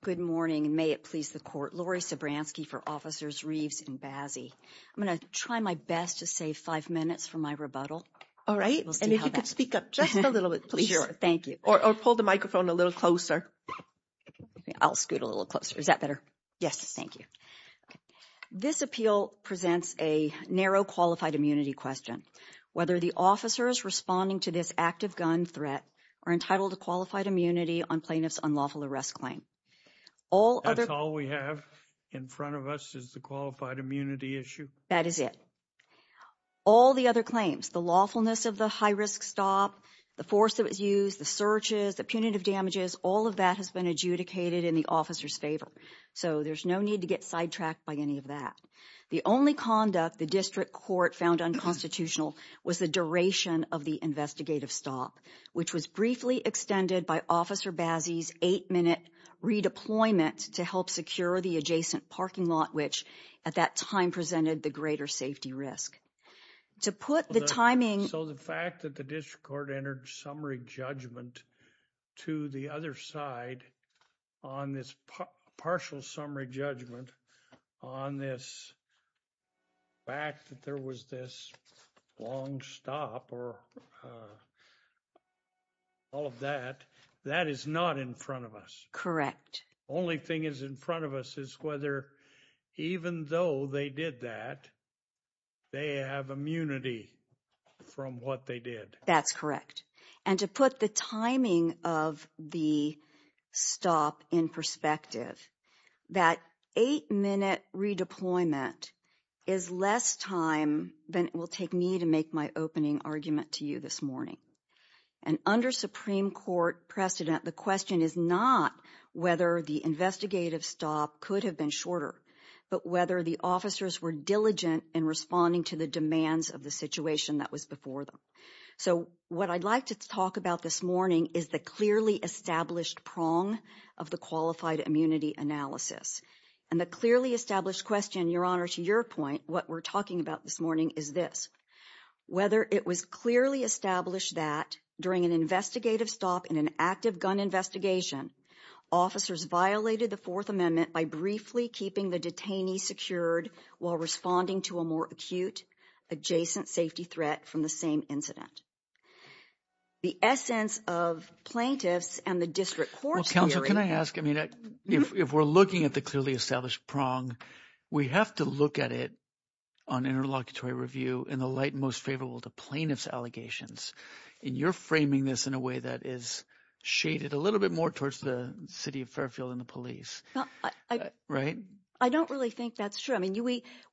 Good morning, and may it please the court. Lori Sabransky for Officers Reeves and Bazzi. I'm going to try my best to save five minutes for my rebuttal. All right, and if you could speak up just a little bit, please. Sure, thank you. Or pull the microphone a little closer. I'll scoot a little closer. Is that better? Yes. Thank you. This appeal presents a narrow qualified immunity question. Whether the officers responding to this active gun threat are entitled to qualified immunity on plaintiff's unlawful arrest claim. That's all we have in front of us is the qualified immunity issue. That is it. All the other claims, the lawfulness of the high risk stop, the force that was used, the searches, the punitive damages, all of that has been adjudicated in the officer's favor. So there's no need to get sidetracked by any of that. The only conduct the district court found unconstitutional was the duration of the investigative stop, which was briefly extended by officer Bazzi's eight minute redeployment to help secure the adjacent parking lot, which at that time presented the greater safety risk. To put the timing... So the fact that the district court entered summary judgment to the other side on this partial summary judgment on this fact that there was this long stop or all of that, that is not in front of us. Only thing is in front of us is whether even though they did that, they have immunity from what they did. That's correct. And to put the timing of the stop in perspective, that eight minute redeployment is less time than it will take me to make my opening argument to you this morning. And under Supreme Court precedent, the question is not whether the investigative stop could have been shorter, but whether the officers were diligent in responding to the demands of the situation that was before them. So what I'd like to talk about this morning is the clearly established prong of the qualified immunity analysis. And the clearly established question, Your Honor, to your point, what we're talking about this morning is this, whether it was clearly established that during an investigative stop in an active gun investigation, officers violated the Fourth Amendment by briefly keeping the detainee secured while responding to a more acute adjacent safety threat from the same incident. The essence of plaintiffs and the district court... Well, counsel, can I ask? I mean, if we're looking at the clearly established prong, we have to look at it on interlocutory review in the light most favorable to plaintiff's allegations. And you're framing this in a way that is shaded a little bit more towards the city of Fairfield and the police. Right? I don't really think that's true. I mean,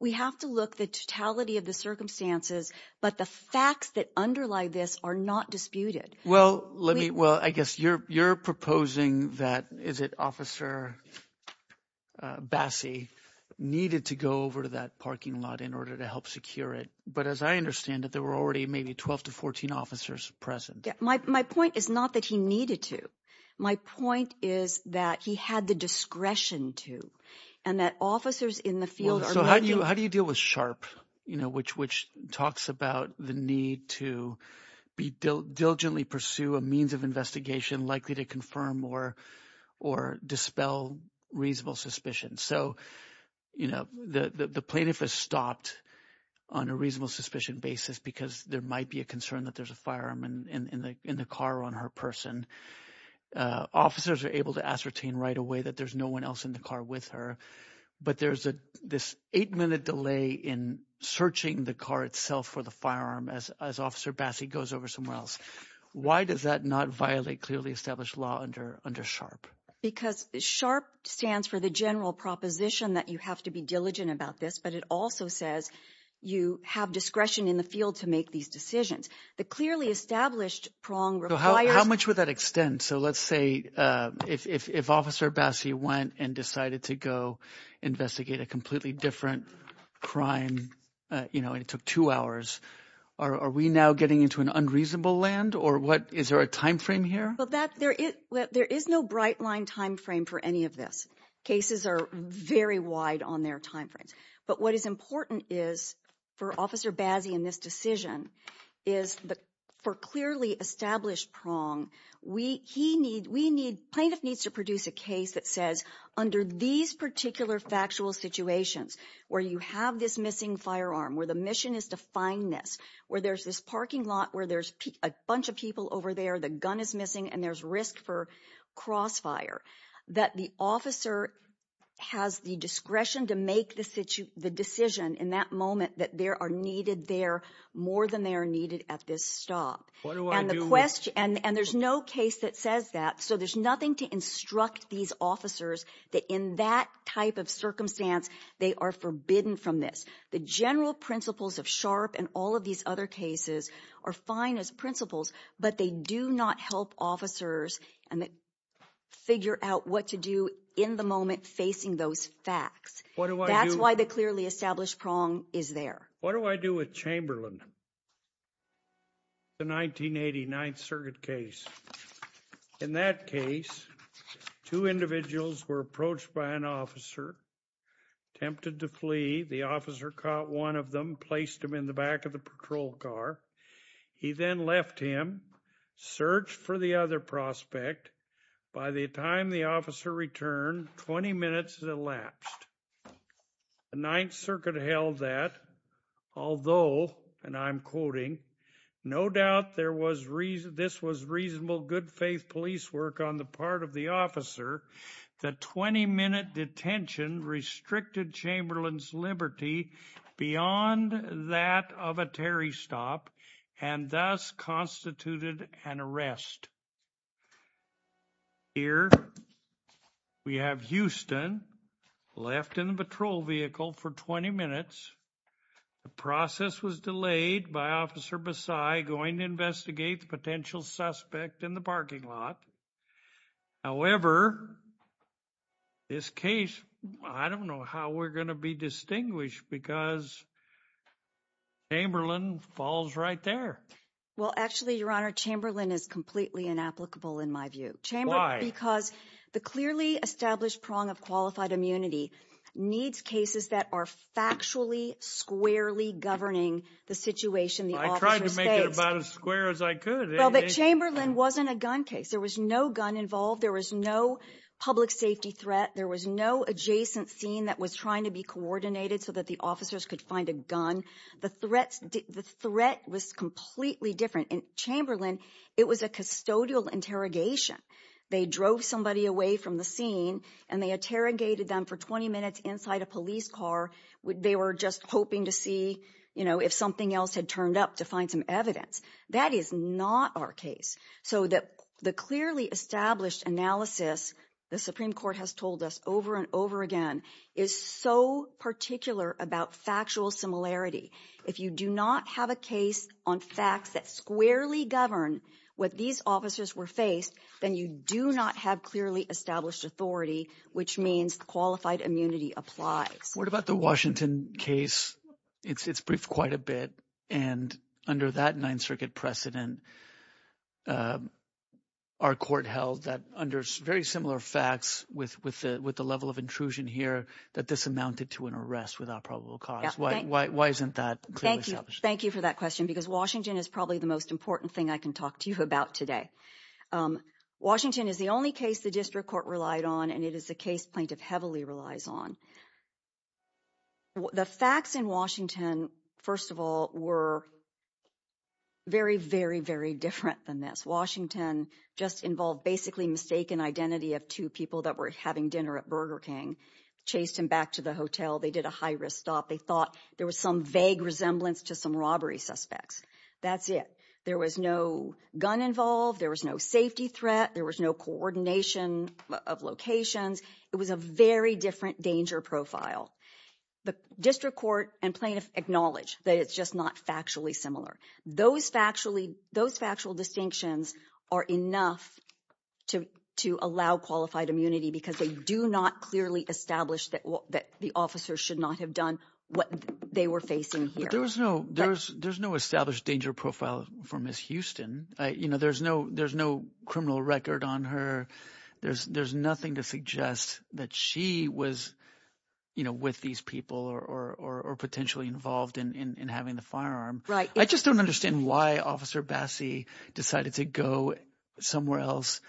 we have to look the totality of the circumstances, but the facts that underlie this are not disputed. Well, let me... Well, I guess you're proposing that... Is it officer Bassey needed to go over to that parking lot in order to help secure it? But as I understand it, there were already maybe 12 to 14 officers present. Yeah. My point is not that he needed to. My point is that he had the discretion to and that officers in the field... So how do you deal with sharp, you know, which talks about the need to be diligently pursue a means of investigation likely to confirm or dispel reasonable suspicion. So, you know, the plaintiff has stopped on a reasonable suspicion basis because there might be a concern that there's a firearm in the car on her person. Officers are able to ascertain right away that there's no one else in the car with her. But there's this eight minute delay in searching the car itself for the firearm as officer Bassey goes over somewhere else. Why does that not violate clearly established law under SHARP? Because SHARP stands for the general proposition that you have to be diligent about this, but it also says you have discretion in the field to make these decisions. The clearly established prong requires... How much would that extend? So let's say if officer Bassey went and decided to go investigate a completely different crime, you know, and it took two hours, are we now getting into an unreasonable land? Or what, is there a timeframe here? Well, there is no bright line timeframe for any of this. Cases are very wide on their timeframes. But what is important is for officer Bassey in this decision is for clearly established prong, plaintiff needs to produce a case that says, under these particular factual situations where you have this missing firearm, where the mission is to find this, where there's this parking lot, where there's a bunch of people over there, the gun is missing and there's risk for crossfire, that the officer has the discretion to make the decision in that moment that there are needed there more than they are needed at this stop. And there's no case that says that. So there's nothing to instruct these officers that in that type of circumstance, they are forbidden from this. The general principles of Sharp and all of these other cases are fine as principles, but they do not help officers and figure out what to do in the moment facing those facts. That's why the clearly established prong is there. What do I do with Chamberlain? The 1989th circuit case. In that case, two individuals were approached by an officer, tempted to flee. The officer caught one of them, placed him in the back of the patrol car. He then left him, searched for the other prospect. By the time the officer returned, 20 minutes had elapsed. The Ninth Circuit held that, although, and I'm quoting, no doubt this was reasonable, good faith police work on the part of the officer. The 20-minute detention restricted Chamberlain's liberty beyond that of a Terry stop and thus constituted an arrest. Here, we have Houston left in the patrol vehicle for 20 minutes. The process was delayed by Officer Besai going to investigate the potential suspect in the parking lot. However, this case, I don't know how we're going to be distinguished because Chamberlain falls right there. Well, actually, Your Honor, Chamberlain is completely inapplicable in my view. Chamberlain- Because the clearly established prong of qualified immunity needs cases that are factually, squarely governing the situation the officers face. I tried to make it about as square as I could. Well, but Chamberlain wasn't a gun case. There was no gun involved. There was no public safety threat. There was no adjacent scene that was trying to be coordinated so that the officers could find a gun. The threat was completely different. In Chamberlain, it was a custodial interrogation. They drove somebody away from the scene and they interrogated them for 20 minutes inside a police car. They were just hoping to see, if something else had turned up to find some evidence. That is not our case. So the clearly established analysis the Supreme Court has told us over and over again is so particular about factual similarity. If you do not have a case on facts that squarely govern what these officers were faced, then you do not have clearly established authority, which means qualified immunity applies. What about the Washington case? It's briefed quite a bit. And under that Ninth Circuit precedent, our court held that under very similar facts with the level of intrusion here, that this amounted to an arrest without probable cause. Why isn't that clearly established? Thank you for that question because Washington is probably the most important thing I can talk to you about today. Washington is the only case the district court relied on and it is a case plaintiff heavily relies on. The facts in Washington, first of all, were very, very, very different than this. Just involve basically mistaken identity of two people that were having dinner at Burger King, chased him back to the hotel. They did a high risk stop. They thought there was some vague resemblance to some robbery suspects. That's it. There was no gun involved. There was no safety threat. There was no coordination of locations. It was a very different danger profile. The district court and plaintiff acknowledge that it's just not factually similar. Those factual distinctions are enough to allow qualified immunity because they do not clearly establish that the officers should not have done what they were facing here. But there's no established danger profile for Ms. Houston. There's no criminal record on her. There's nothing to suggest that she was with these people or potentially involved in having the firearm. I just don't understand why Officer Bassey decided to go somewhere else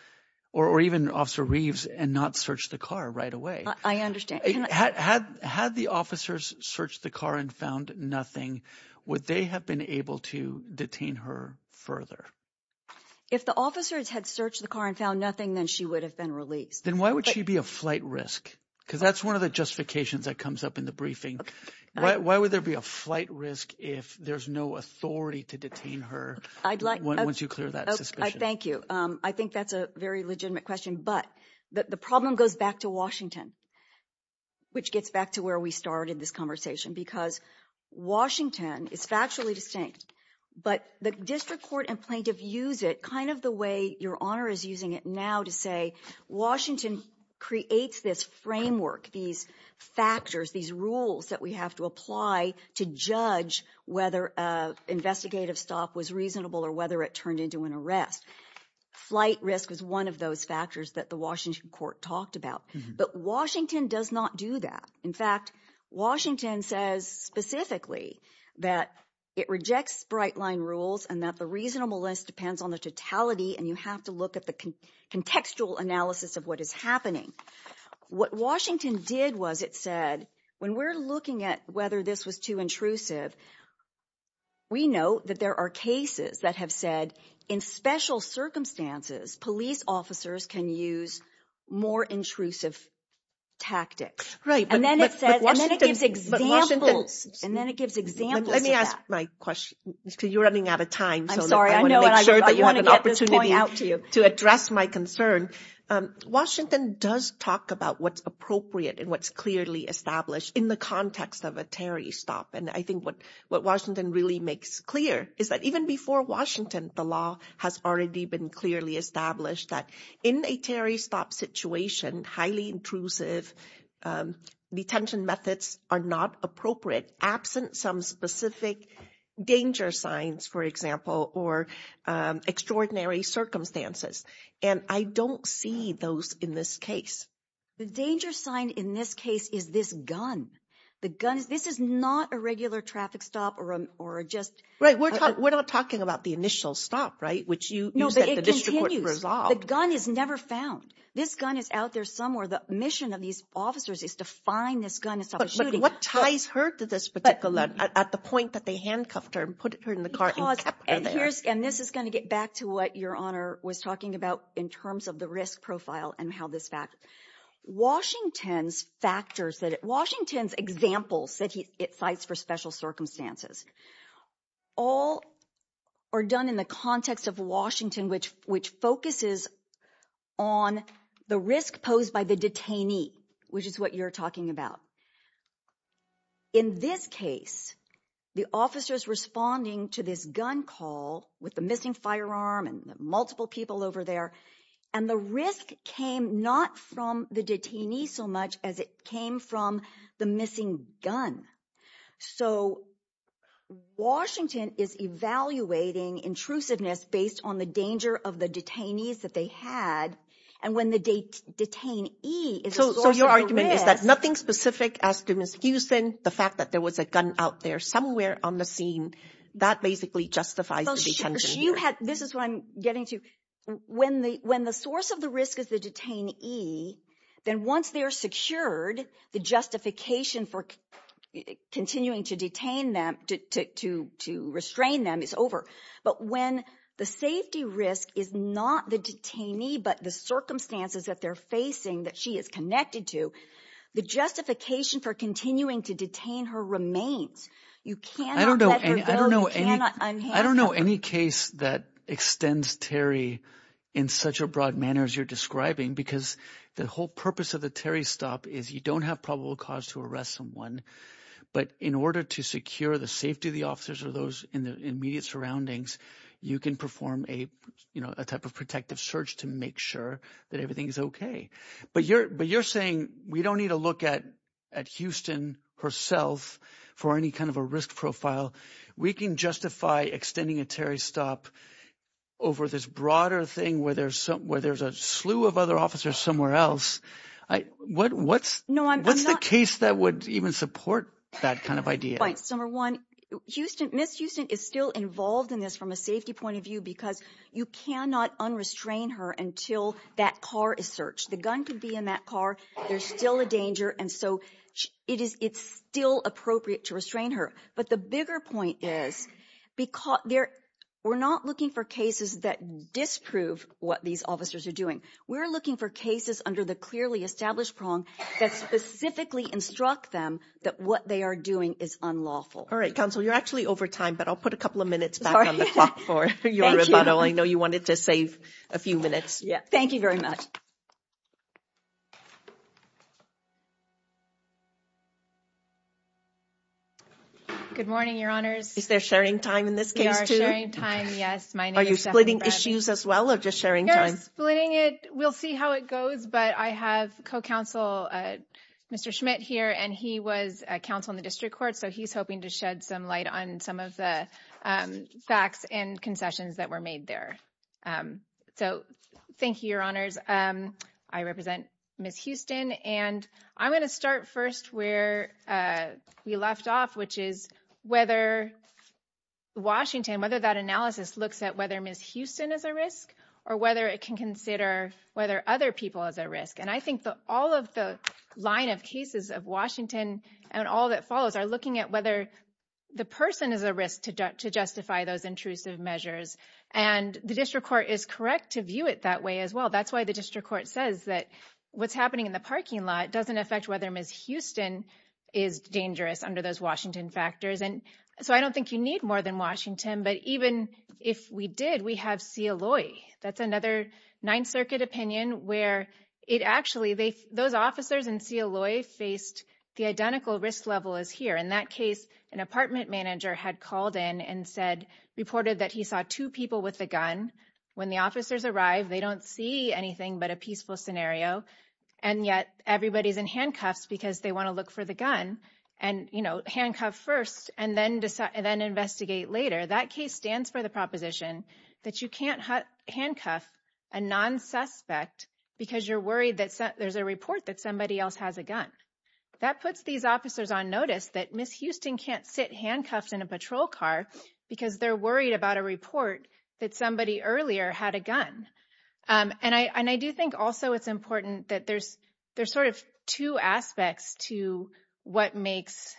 or even Officer Reeves and not search the car right away. Had the officers searched the car and found nothing, would they have been able to detain her further? If the officers had searched the car and found nothing, then she would have been released. Then why would she be a flight risk? Because that's one of the justifications that comes up in the briefing. Why would there be a flight risk if there's no authority to detain her once you clear that suspicion? Thank you. I think that's a very legitimate question. But the problem goes back to Washington, which gets back to where we started this conversation. Because Washington is factually distinct, but the district court and plaintiff use it kind of the way Your Honor is using it now to say, Washington creates this framework, these factors, these rules that we have to apply to judge whether investigative stop was reasonable or whether it turned into an arrest. Flight risk was one of those factors that the Washington court talked about. But Washington does not do that. In fact, Washington says specifically that it rejects bright line rules and that the reasonableness depends on the totality. And you have to look at the contextual analysis of what is happening. What Washington did was it said, when we're looking at whether this was too intrusive, we know that there are cases that have said in special circumstances, police officers can use more intrusive tactics. And then it gives examples. And then it gives examples. Let me ask my question because you're running out of time. I'm sorry. I want to make sure that you have an opportunity to address my concern. Washington does talk about what's appropriate and what's clearly established in the context of a Terry stop. And I think what Washington really makes clear is that even before Washington, the law has already been clearly established that in a Terry stop situation, highly intrusive detention methods are not appropriate absent some specific danger signs, for example, or extraordinary circumstances. And I don't see those in this case. The danger sign in this case is this gun. The gun, this is not a regular traffic stop or just... Right. We're not talking about the initial stop, right? Which you used at the district court for resolve. The gun is never found. This gun is out there somewhere. The mission of these officers is to find this gun and stop the shooting. What ties her to this particular, at the point that they handcuffed her and put her in the car and kept her there? And this is going to get back to what your honor was talking about in terms of the risk profile and how this fact... Washington's factors that... Washington's examples that he cites for special circumstances, all are done in the context of Washington, which focuses on the risk posed by the detainee, which is what you're talking about. In this case, the officers responding to this gun call with the missing firearm and multiple people over there and the risk came not from the detainee so much as it came from the missing gun. So, Washington is evaluating intrusiveness based on the danger of the detainees that they had and when the detainee is a source of risk... So, your argument is that nothing specific as to Ms. Houston, the fact that there was a gun out there somewhere on the scene, that basically justifies the detention here. This is what I'm getting to. When the source of the risk is the detainee, then once they're secured, the justification for continuing to detain them, to restrain them is over. But when the safety risk is not the detainee, but the circumstances that they're facing that she is connected to, the justification for continuing to detain her remains. I don't know any case that extends Terry in such a broad manner as you're describing because the whole purpose of the Terry stop is you don't have probable cause to arrest someone, but in order to secure the safety of the officers or those in the immediate surroundings, you can perform a type of protective search to make sure that everything is okay. But you're saying we don't need to look at Houston herself for any kind of a risk profile. We can justify extending a Terry stop over this broader thing where there's a slew of other officers somewhere else. What's the case that would even support that kind of idea? Right, so number one, Ms. Houston is still involved in this from a safety point of view because you cannot unrestrain her until that car is searched. The gun could be in that car. There's still a danger. And so it's still appropriate to restrain her. But the bigger point is, we're not looking for cases that disprove what these officers are doing. We're looking for cases under the clearly established prong that specifically instruct them that what they are doing is unlawful. All right, counsel, you're actually over time, but I'll put a couple of minutes back on the clock for your rebuttal. I know you wanted to save a few minutes. Yeah, thank you very much. Good morning, Your Honors. Is there sharing time in this case too? We are sharing time, yes. Are you splitting issues as well or just sharing time? We're splitting it. We'll see how it goes, but I have co-counsel Mr. Schmidt here, and he was a counsel in the district court, so he's hoping to shed some light on some of the facts and concessions that were made there. So thank you, Your Honors. I represent Ms. Houston, and I'm gonna start with Ms. Houston. I'm gonna start first where we left off, which is whether Washington, whether that analysis looks at whether Ms. Houston is a risk or whether it can consider whether other people is a risk. And I think that all of the line of cases of Washington and all that follows are looking at whether the person is a risk to justify those intrusive measures. And the district court is correct to view it that way as well. That's why the district court says that what's happening in the parking lot doesn't affect whether Ms. Houston is dangerous under those Washington factors. And so I don't think you need more than Washington, but even if we did, we have Cialoi. That's another Ninth Circuit opinion where it actually, those officers in Cialoi faced the identical risk level as here. In that case, an apartment manager had called in and reported that he saw two people with a gun. When the officers arrived, they don't see anything but a peaceful scenario. And yet everybody's in handcuffs because they wanna look for the gun and handcuff first and then investigate later. That case stands for the proposition that you can't handcuff a non-suspect because you're worried that there's a report that somebody else has a gun. That puts these officers on notice that Ms. Houston can't sit handcuffed in a patrol car because they're worried about a report that somebody earlier had a gun. And I do think also it's important that there's sort of two aspects to what makes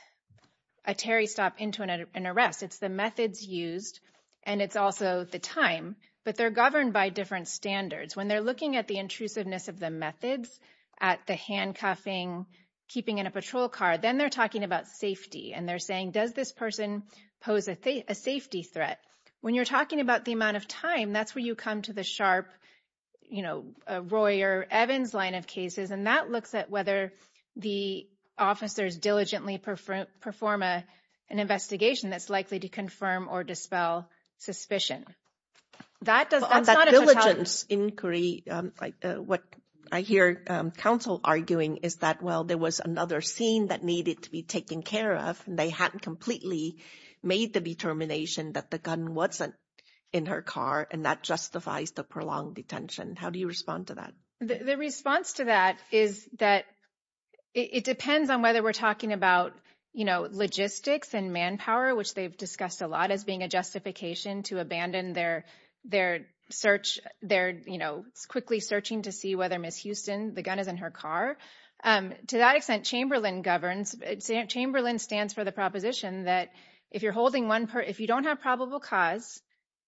a Terry stop into an arrest. It's the methods used and it's also the time, but they're governed by different standards. When they're looking at the intrusiveness of the methods, at the handcuffing, keeping in a patrol car, then they're talking about safety. And they're saying, does this person pose a safety threat? When you're talking about the amount of time, that's where you come to the sharp, you know, Roy or Evans line of cases. And that looks at whether the officers diligently perform an investigation that's likely to confirm or dispel suspicion. That does not- On that diligence inquiry, what I hear counsel arguing is that, well, there was another scene that needed to be taken care of. They hadn't completely made the determination that the gun wasn't in her car and that justifies the prolonged detention. How do you respond to that? The response to that is that it depends on whether we're talking about, you know, logistics and manpower, which they've discussed a lot as being a justification to abandon their search. They're, you know, quickly searching to see whether Ms. Houston, the gun is in her car. To that extent, Chamberlain governs. Chamberlain stands for the proposition that if you're holding one, if you don't have probable cause,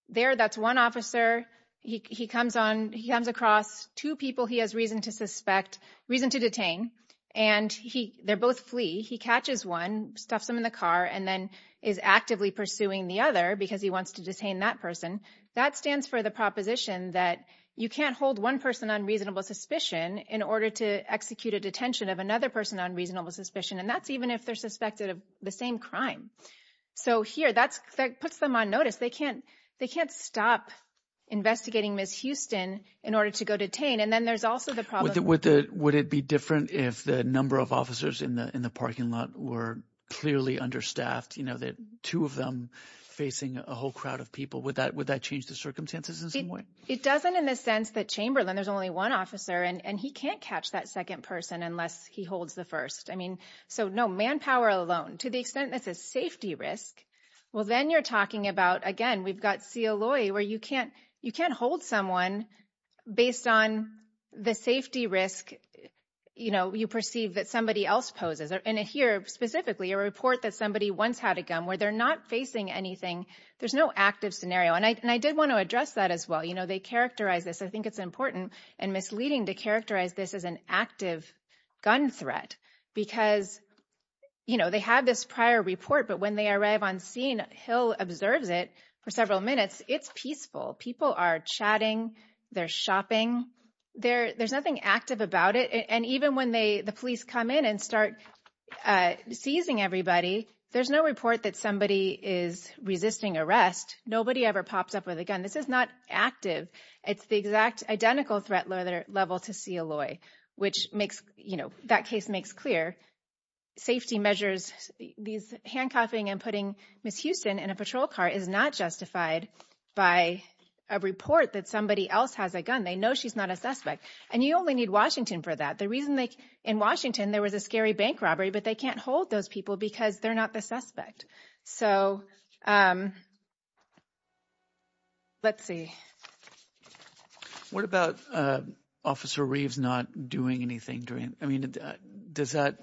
there, that's one officer, he comes across two people he has reason to suspect, reason to detain, and they're both flea. He catches one, stuffs him in the car, and then is actively pursuing the other because he wants to detain that person. That stands for the proposition that you can't hold one person on reasonable suspicion in order to execute a detention of another person on reasonable suspicion. And that's even if they're suspected of the same crime. So here, that puts them on notice. They can't stop investigating Ms. Houston in order to go detain. And then there's also the problem- Would it be different if the number of officers in the parking lot were clearly understaffed? You know, that two of them facing a whole crowd of people, would that change the circumstances in some way? It doesn't in the sense that Chamberlain, there's only one officer, and he can't catch that second person unless he holds the first. I mean, so no, manpower alone, to the extent that's a safety risk, well, then you're talking about, again, we've got C. Aloi, where you can't hold someone based on the safety risk, you know, you perceive that somebody else poses. And here, specifically, a report that somebody once had a gun where they're not facing anything. There's no active scenario. And I did want to address that as well. You know, they characterize this. I think it's important and misleading to characterize this as an active gun threat because, you know, they have this prior report, but when they arrive on scene, Hill observes it for several minutes. It's peaceful. People are chatting. They're shopping. There's nothing active about it. And even when the police come in and start seizing everybody, there's no report that somebody is resisting arrest. Nobody ever pops up with a gun. This is not active. It's the exact identical threat level to C. Aloi, which makes, you know, that case makes clear. Safety measures, these handcuffing and putting Ms. Houston in a patrol car is not justified by a report that somebody else has a gun. They know she's not a suspect. And you only need Washington for that. The reason they, in Washington, there was a scary bank robbery, but they can't hold those people because they're not the suspect. So let's see. What about Officer Reeves not doing anything during, I mean, is that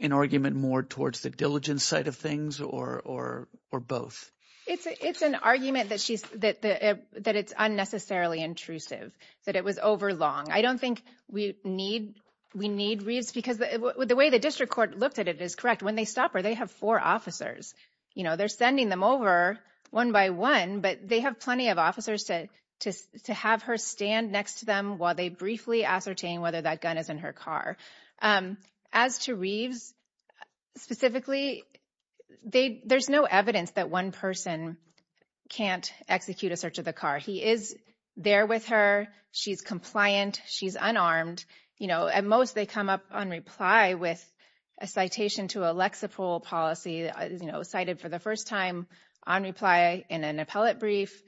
an argument more towards the diligence side of things or both? It's an argument that it's unnecessarily intrusive, that it was overlong. I don't think we need Reeves because the way the district court looked at it is correct. When they stop her, they have four officers. You know, they're sending them over one by one, but they have plenty of officers to have her stand next to them while they briefly ascertain whether that gun is in her car. As to Reeves specifically, there's no evidence that one person can't execute a search of the car. He is there with her. She's compliant. She's unarmed. You know, at most they come up on reply with a citation to a Lexapro policy, you know, cited for the first time on reply in an appellate brief,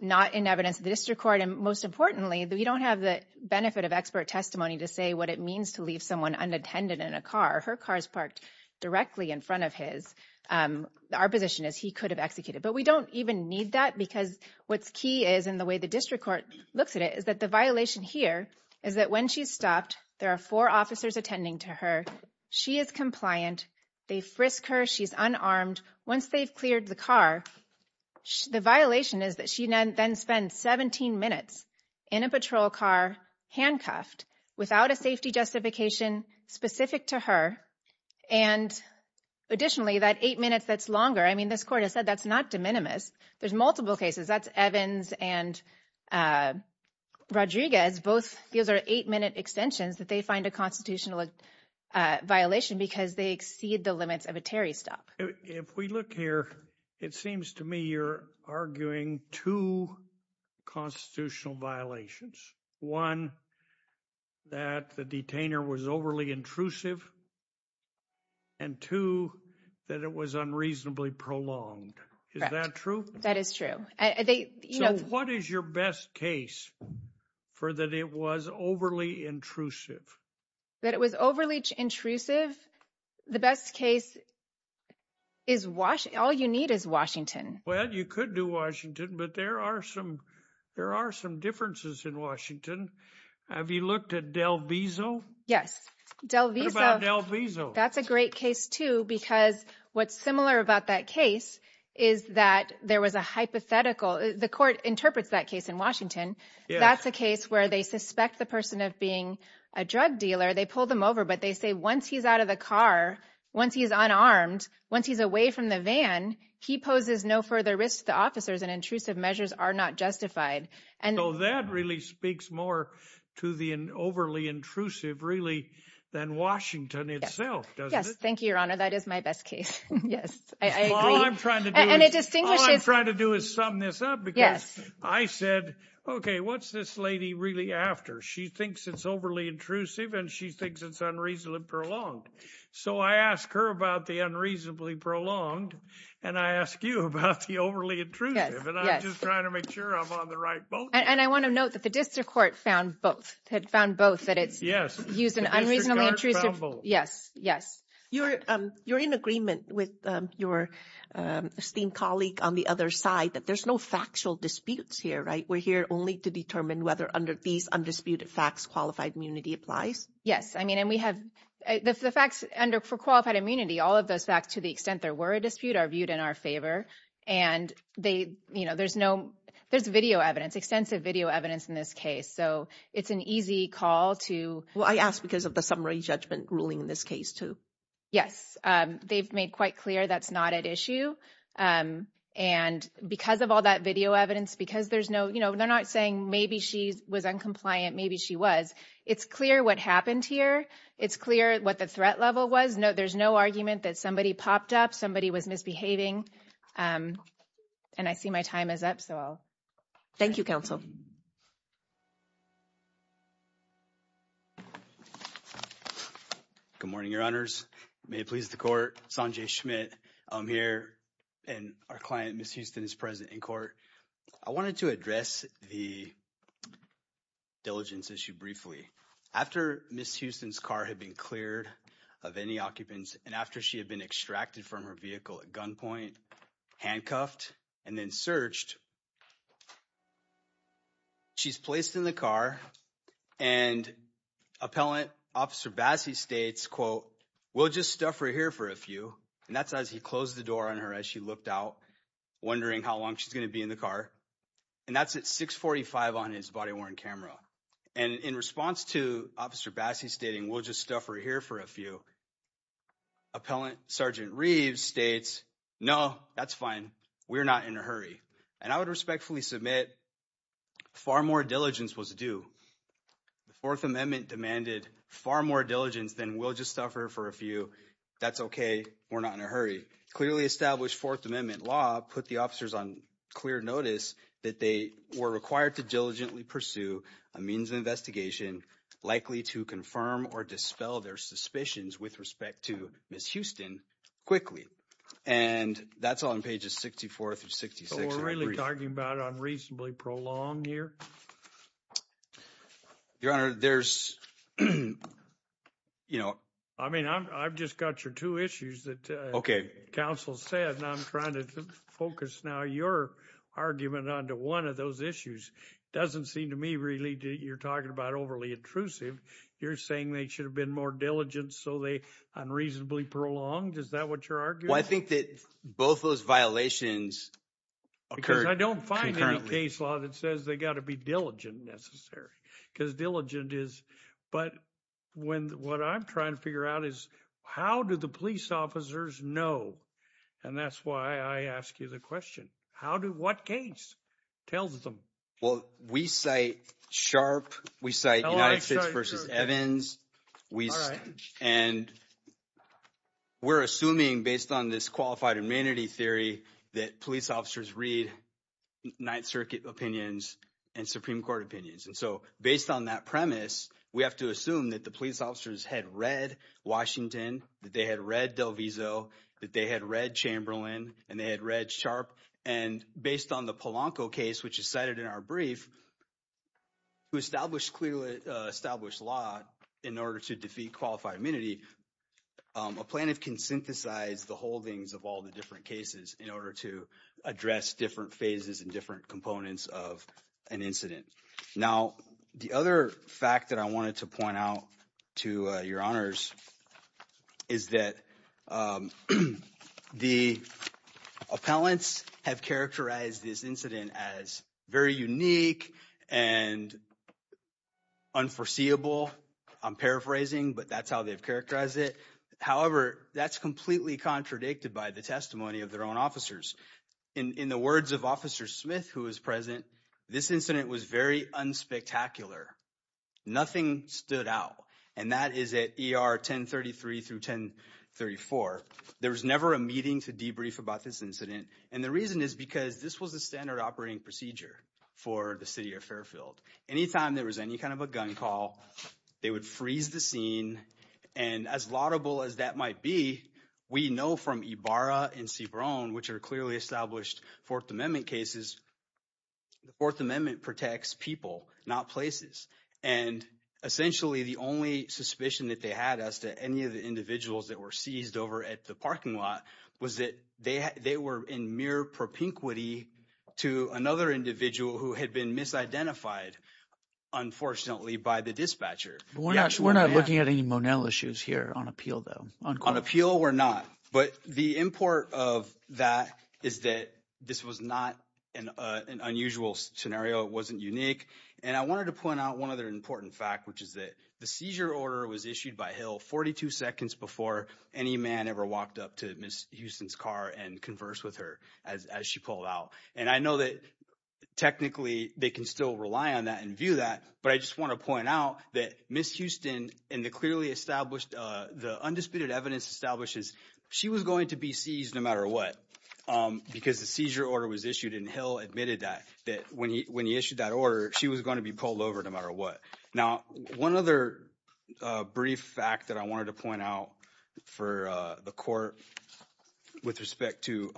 not in evidence of the district court. And most importantly, we don't have the benefit of expert testimony to say what it means to leave someone unattended in a car. Her car's parked directly in front of his. Our position is he could have executed, but we don't even need that because what's key is, and the way the district court looks at it, is that the violation here is that when she's stopped, there are four officers attending to her. She is compliant. They frisk her. She's unarmed. Once they've cleared the car, the violation is that she then spends 17 minutes in a patrol car handcuffed without a safety justification specific to her. And additionally, that eight minutes, that's longer. I mean, this court has said that's not de minimis. There's multiple cases. That's Evans and Rodriguez. Both, these are eight minute extensions that they find a constitutional violation because they exceed the limits of a Terry stop. If we look here, it seems to me, you're arguing two constitutional violations. One, that the detainer was overly intrusive. And two, that it was unreasonably prolonged. Is that true? That is true. What is your best case for that? It was overly intrusive. That it was overly intrusive. The best case is Washington. All you need is Washington. Well, you could do Washington, but there are some differences in Washington. Have you looked at Del Vizo? Yes, Del Vizo. What about Del Vizo? That's a great case too, because what's similar about that case is that there was a hypothetical. The court interprets that case in Washington. That's a case where they suspect the person of being a drug dealer. They pull them over, but they say once he's out of the car, once he's unarmed, once he's away from the van, he poses no further risk to the officers, and intrusive measures are not justified. And so that really speaks more to the overly intrusive, really, than Washington itself, doesn't it? Yes, thank you, Your Honor. That is my best case. Yes, I agree. All I'm trying to do is sum this up, because I said, okay, what's this lady really after? She thinks it's overly intrusive, and she thinks it's unreasonably prolonged. So I ask her about the unreasonably prolonged, and I ask you about the overly intrusive, and I'm just trying to make sure I'm on the right boat. And I want to note that the district court found both, had found both, that it's used an unreasonably intrusive. Yes, yes. You're in agreement with your esteemed colleague on the other side that there's no factual disputes here, right? We're here only to determine whether under these undisputed facts, qualified immunity applies. Yes, I mean, and we have the facts under for qualified immunity, all of those facts to the extent there were a dispute are viewed in our favor. And there's video evidence, extensive video evidence in this case. So it's an easy call to- Well, I asked because of the summary judgment ruling in this case too. Yes, they've made quite clear that's not at issue. And because of all that video evidence, because there's no, they're not saying maybe she was uncompliant, maybe she was. It's clear what happened here. It's clear what the threat level was. There's no argument that somebody popped up somebody was misbehaving. And I see my time is up, so I'll- Thank you, counsel. Good morning, your honors. May it please the court. Sanjay Schmidt, I'm here. And our client, Ms. Houston is present in court. I wanted to address the diligence issue briefly. After Ms. Houston's car had been cleared of any occupants and after she had been extracted from her vehicle at gunpoint, handcuffed, and then searched, she's placed in the car and appellant officer Bassey states, quote, we'll just stuff her here for a few. And that's as he closed the door on her, as she looked out, wondering how long she's gonna be in the car. And that's at 645 on his body worn camera. And in response to officer Bassey stating, we'll just stuff her here for a few. Appellant Sergeant Reeves states, no, that's fine. We're not in a hurry. And I would respectfully submit, far more diligence was due. The Fourth Amendment demanded far more diligence than we'll just stuff her for a few. That's okay, we're not in a hurry. Clearly established Fourth Amendment law put the officers on clear notice that they were required to diligently pursue a means of investigation likely to confirm or dispel their suspicions with respect to Ms. Houston quickly. And that's on pages 64 through 66. So we're really talking about unreasonably prolonged year? Your Honor, there's, you know. I mean, I've just got your two issues that- Okay. Counsel said, and I'm trying to focus now your argument onto one of those issues. Doesn't seem to me really you're talking about overly intrusive. You're saying they should have been more diligent so they unreasonably prolonged. Is that what you're arguing? Well, I think that both of those violations occurred. Because I don't find any case law that says they got to be diligent necessary. Because diligent is, but what I'm trying to figure out is how do the police officers know? And that's why I ask you the question. How do, what case tells them? Well, we say sharp. We say United States versus Evans. All right. And we're assuming based on this qualified immunity theory that police officers read Ninth Circuit opinions and Supreme Court opinions. And so based on that premise, we have to assume that the police officers had read Washington, that they had read Del Vizo, that they had read Chamberlain, and they had read sharp. And based on the Polanco case, which is cited in our brief, who established clearly, established law in order to defeat qualified immunity, a plaintiff can synthesize the holdings of all the different cases in order to address different phases and different components of an incident. Now, the other fact that I wanted to point out to your honors is that the appellants have characterized this incident as very unique and unforeseeable. I'm paraphrasing, but that's how they've characterized it. However, that's completely contradicted by the testimony of their own officers. In the words of Officer Smith, who was present, this incident was very unspectacular. Nothing stood out. And that is at ER 1033 through 1034. There was never a meeting to debrief about this incident. And the reason is because this was the standard operating procedure for the city of Fairfield. Anytime there was any kind of a gun call, they would freeze the scene. And as laudable as that might be, we know from Ibarra and Cibrone, which are clearly established Fourth Amendment cases, the Fourth Amendment protects people, not places. And essentially, the only suspicion that they had as to any of the individuals that were seized over at the parking lot was that they were in mere propinquity to another individual who had been misidentified, unfortunately, by the dispatcher. But we're not looking at any Monell issues here on appeal, though. On appeal, we're not. But the import of that is that this was not an unusual scenario. It wasn't unique. And I wanted to point out one other important fact, which is that the seizure order was issued by Hill 42 seconds before any man ever walked up to Ms. Houston's car and conversed with her as she pulled out. And I know that technically, they can still rely on that and view that. But I just want to point out that Ms. Houston and the clearly established, the undisputed evidence establishes she was going to be seized no matter what because the seizure order was issued and Hill admitted that when he issued that order, she was going to be pulled over no matter what. Now, one other brief fact that I wanted to point out for the court with respect to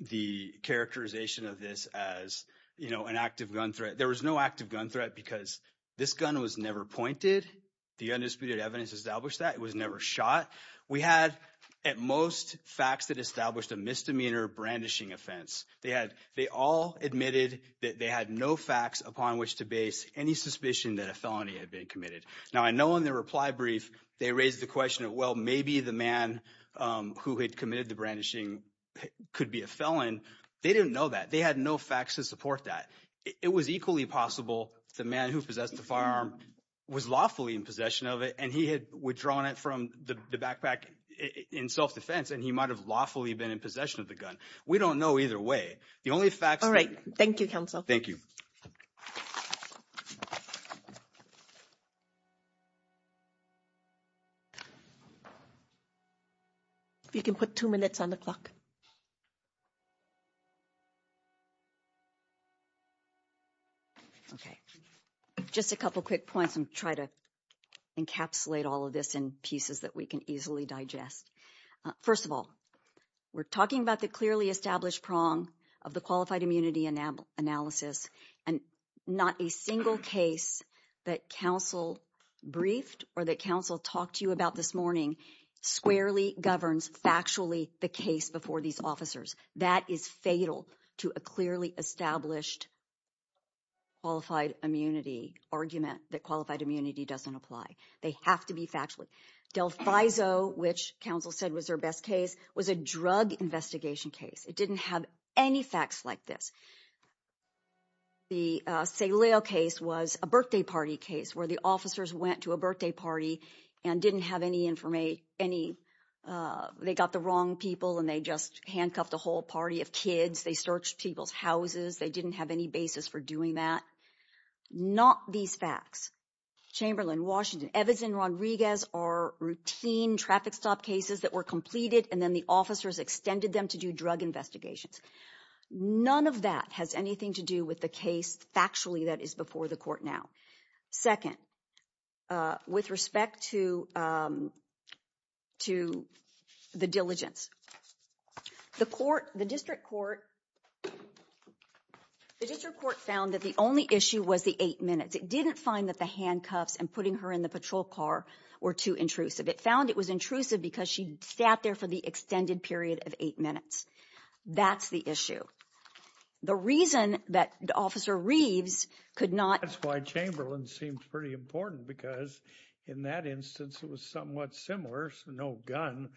the characterization of this as an active gun threat, there was no active gun threat because this gun was never pointed. The undisputed evidence established that. It was never shot. We had at most facts that established a misdemeanor brandishing offense. They all admitted that they had no facts upon which to base any suspicion that a felony had been committed. Now, I know in the reply brief, they raised the question of, well, maybe the man who had committed the brandishing could be a felon. They didn't know that. They had no facts to support that. It was equally possible the man who possessed the firearm was lawfully in possession of it and he had withdrawn it from the backpack in self-defense and he might've lawfully been in possession of the gun. We don't know either way. The only facts- Thank you, counsel. Thank you. If you can put two minutes on the clock. Okay. Just a couple of quick points and try to encapsulate all of this in pieces that we can easily digest. First of all, we're talking about the clearly established prong of the qualified immunity analysis and not a single case that counsel briefed or that counsel talked to you about this morning squarely governs factually the case before these officers. That is fatal to a clearly established qualified immunity argument that qualified immunity doesn't apply. They have to be factually. Del Faiso, which counsel said was their best case, was a drug investigation case. It didn't have any facts like this. The Saleo case was a birthday party case where the officers went to a birthday party and didn't have any information. They got the wrong people and they just handcuffed a whole party of kids. They searched people's houses. They didn't have any basis for doing that. Not these facts. Chamberlain, Washington, Evans and Rodriguez are routine traffic stop cases that were completed. And then the officers extended them to do drug investigations. None of that has anything to do with the case, factually, that is before the court now. Second, with respect to the diligence, the district court found that the only issue was the eight minutes. It didn't find that the handcuffs and putting her in the patrol car were too intrusive. It found it was intrusive because she sat there for the extended period of eight minutes. That's the issue. The reason that Officer Reeves could not- That's why Chamberlain seems pretty important because in that instance, it was somewhat similar. No gun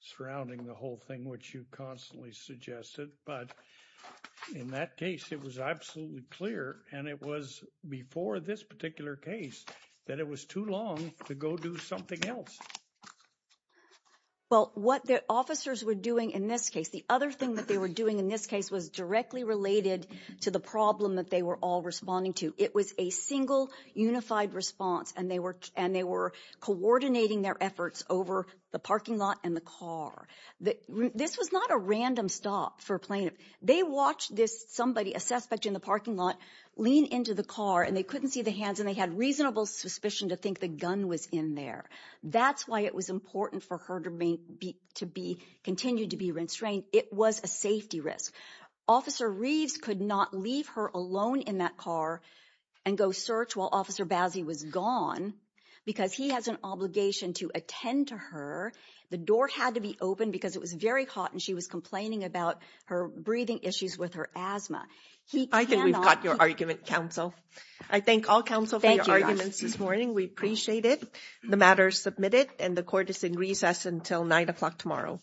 surrounding the whole thing, which you constantly suggested. But in that case, it was absolutely clear. And it was before this particular case that it was too long to go do something else. Well, what the officers were doing in this case, the other thing that they were doing in this case was directly related to the problem that they were all responding to. It was a single unified response and they were coordinating their efforts over the parking lot and the car. This was not a random stop for plaintiff. They watched somebody, a suspect in the parking lot, lean into the car and they couldn't see the hands and they had reasonable suspicion to think the gun was in there. That's why it was important for her to continue to be restrained. It was a safety risk. Officer Reeves could not leave her alone in that car and go search while Officer Bazzi was gone because he has an obligation to attend to her. The door had to be open because it was very hot and she was complaining about her breathing issues with her asthma. I think we've got your argument, counsel. I thank all counsel for your arguments this morning. We appreciate it. The matter is submitted and the court is in recess until nine o'clock tomorrow.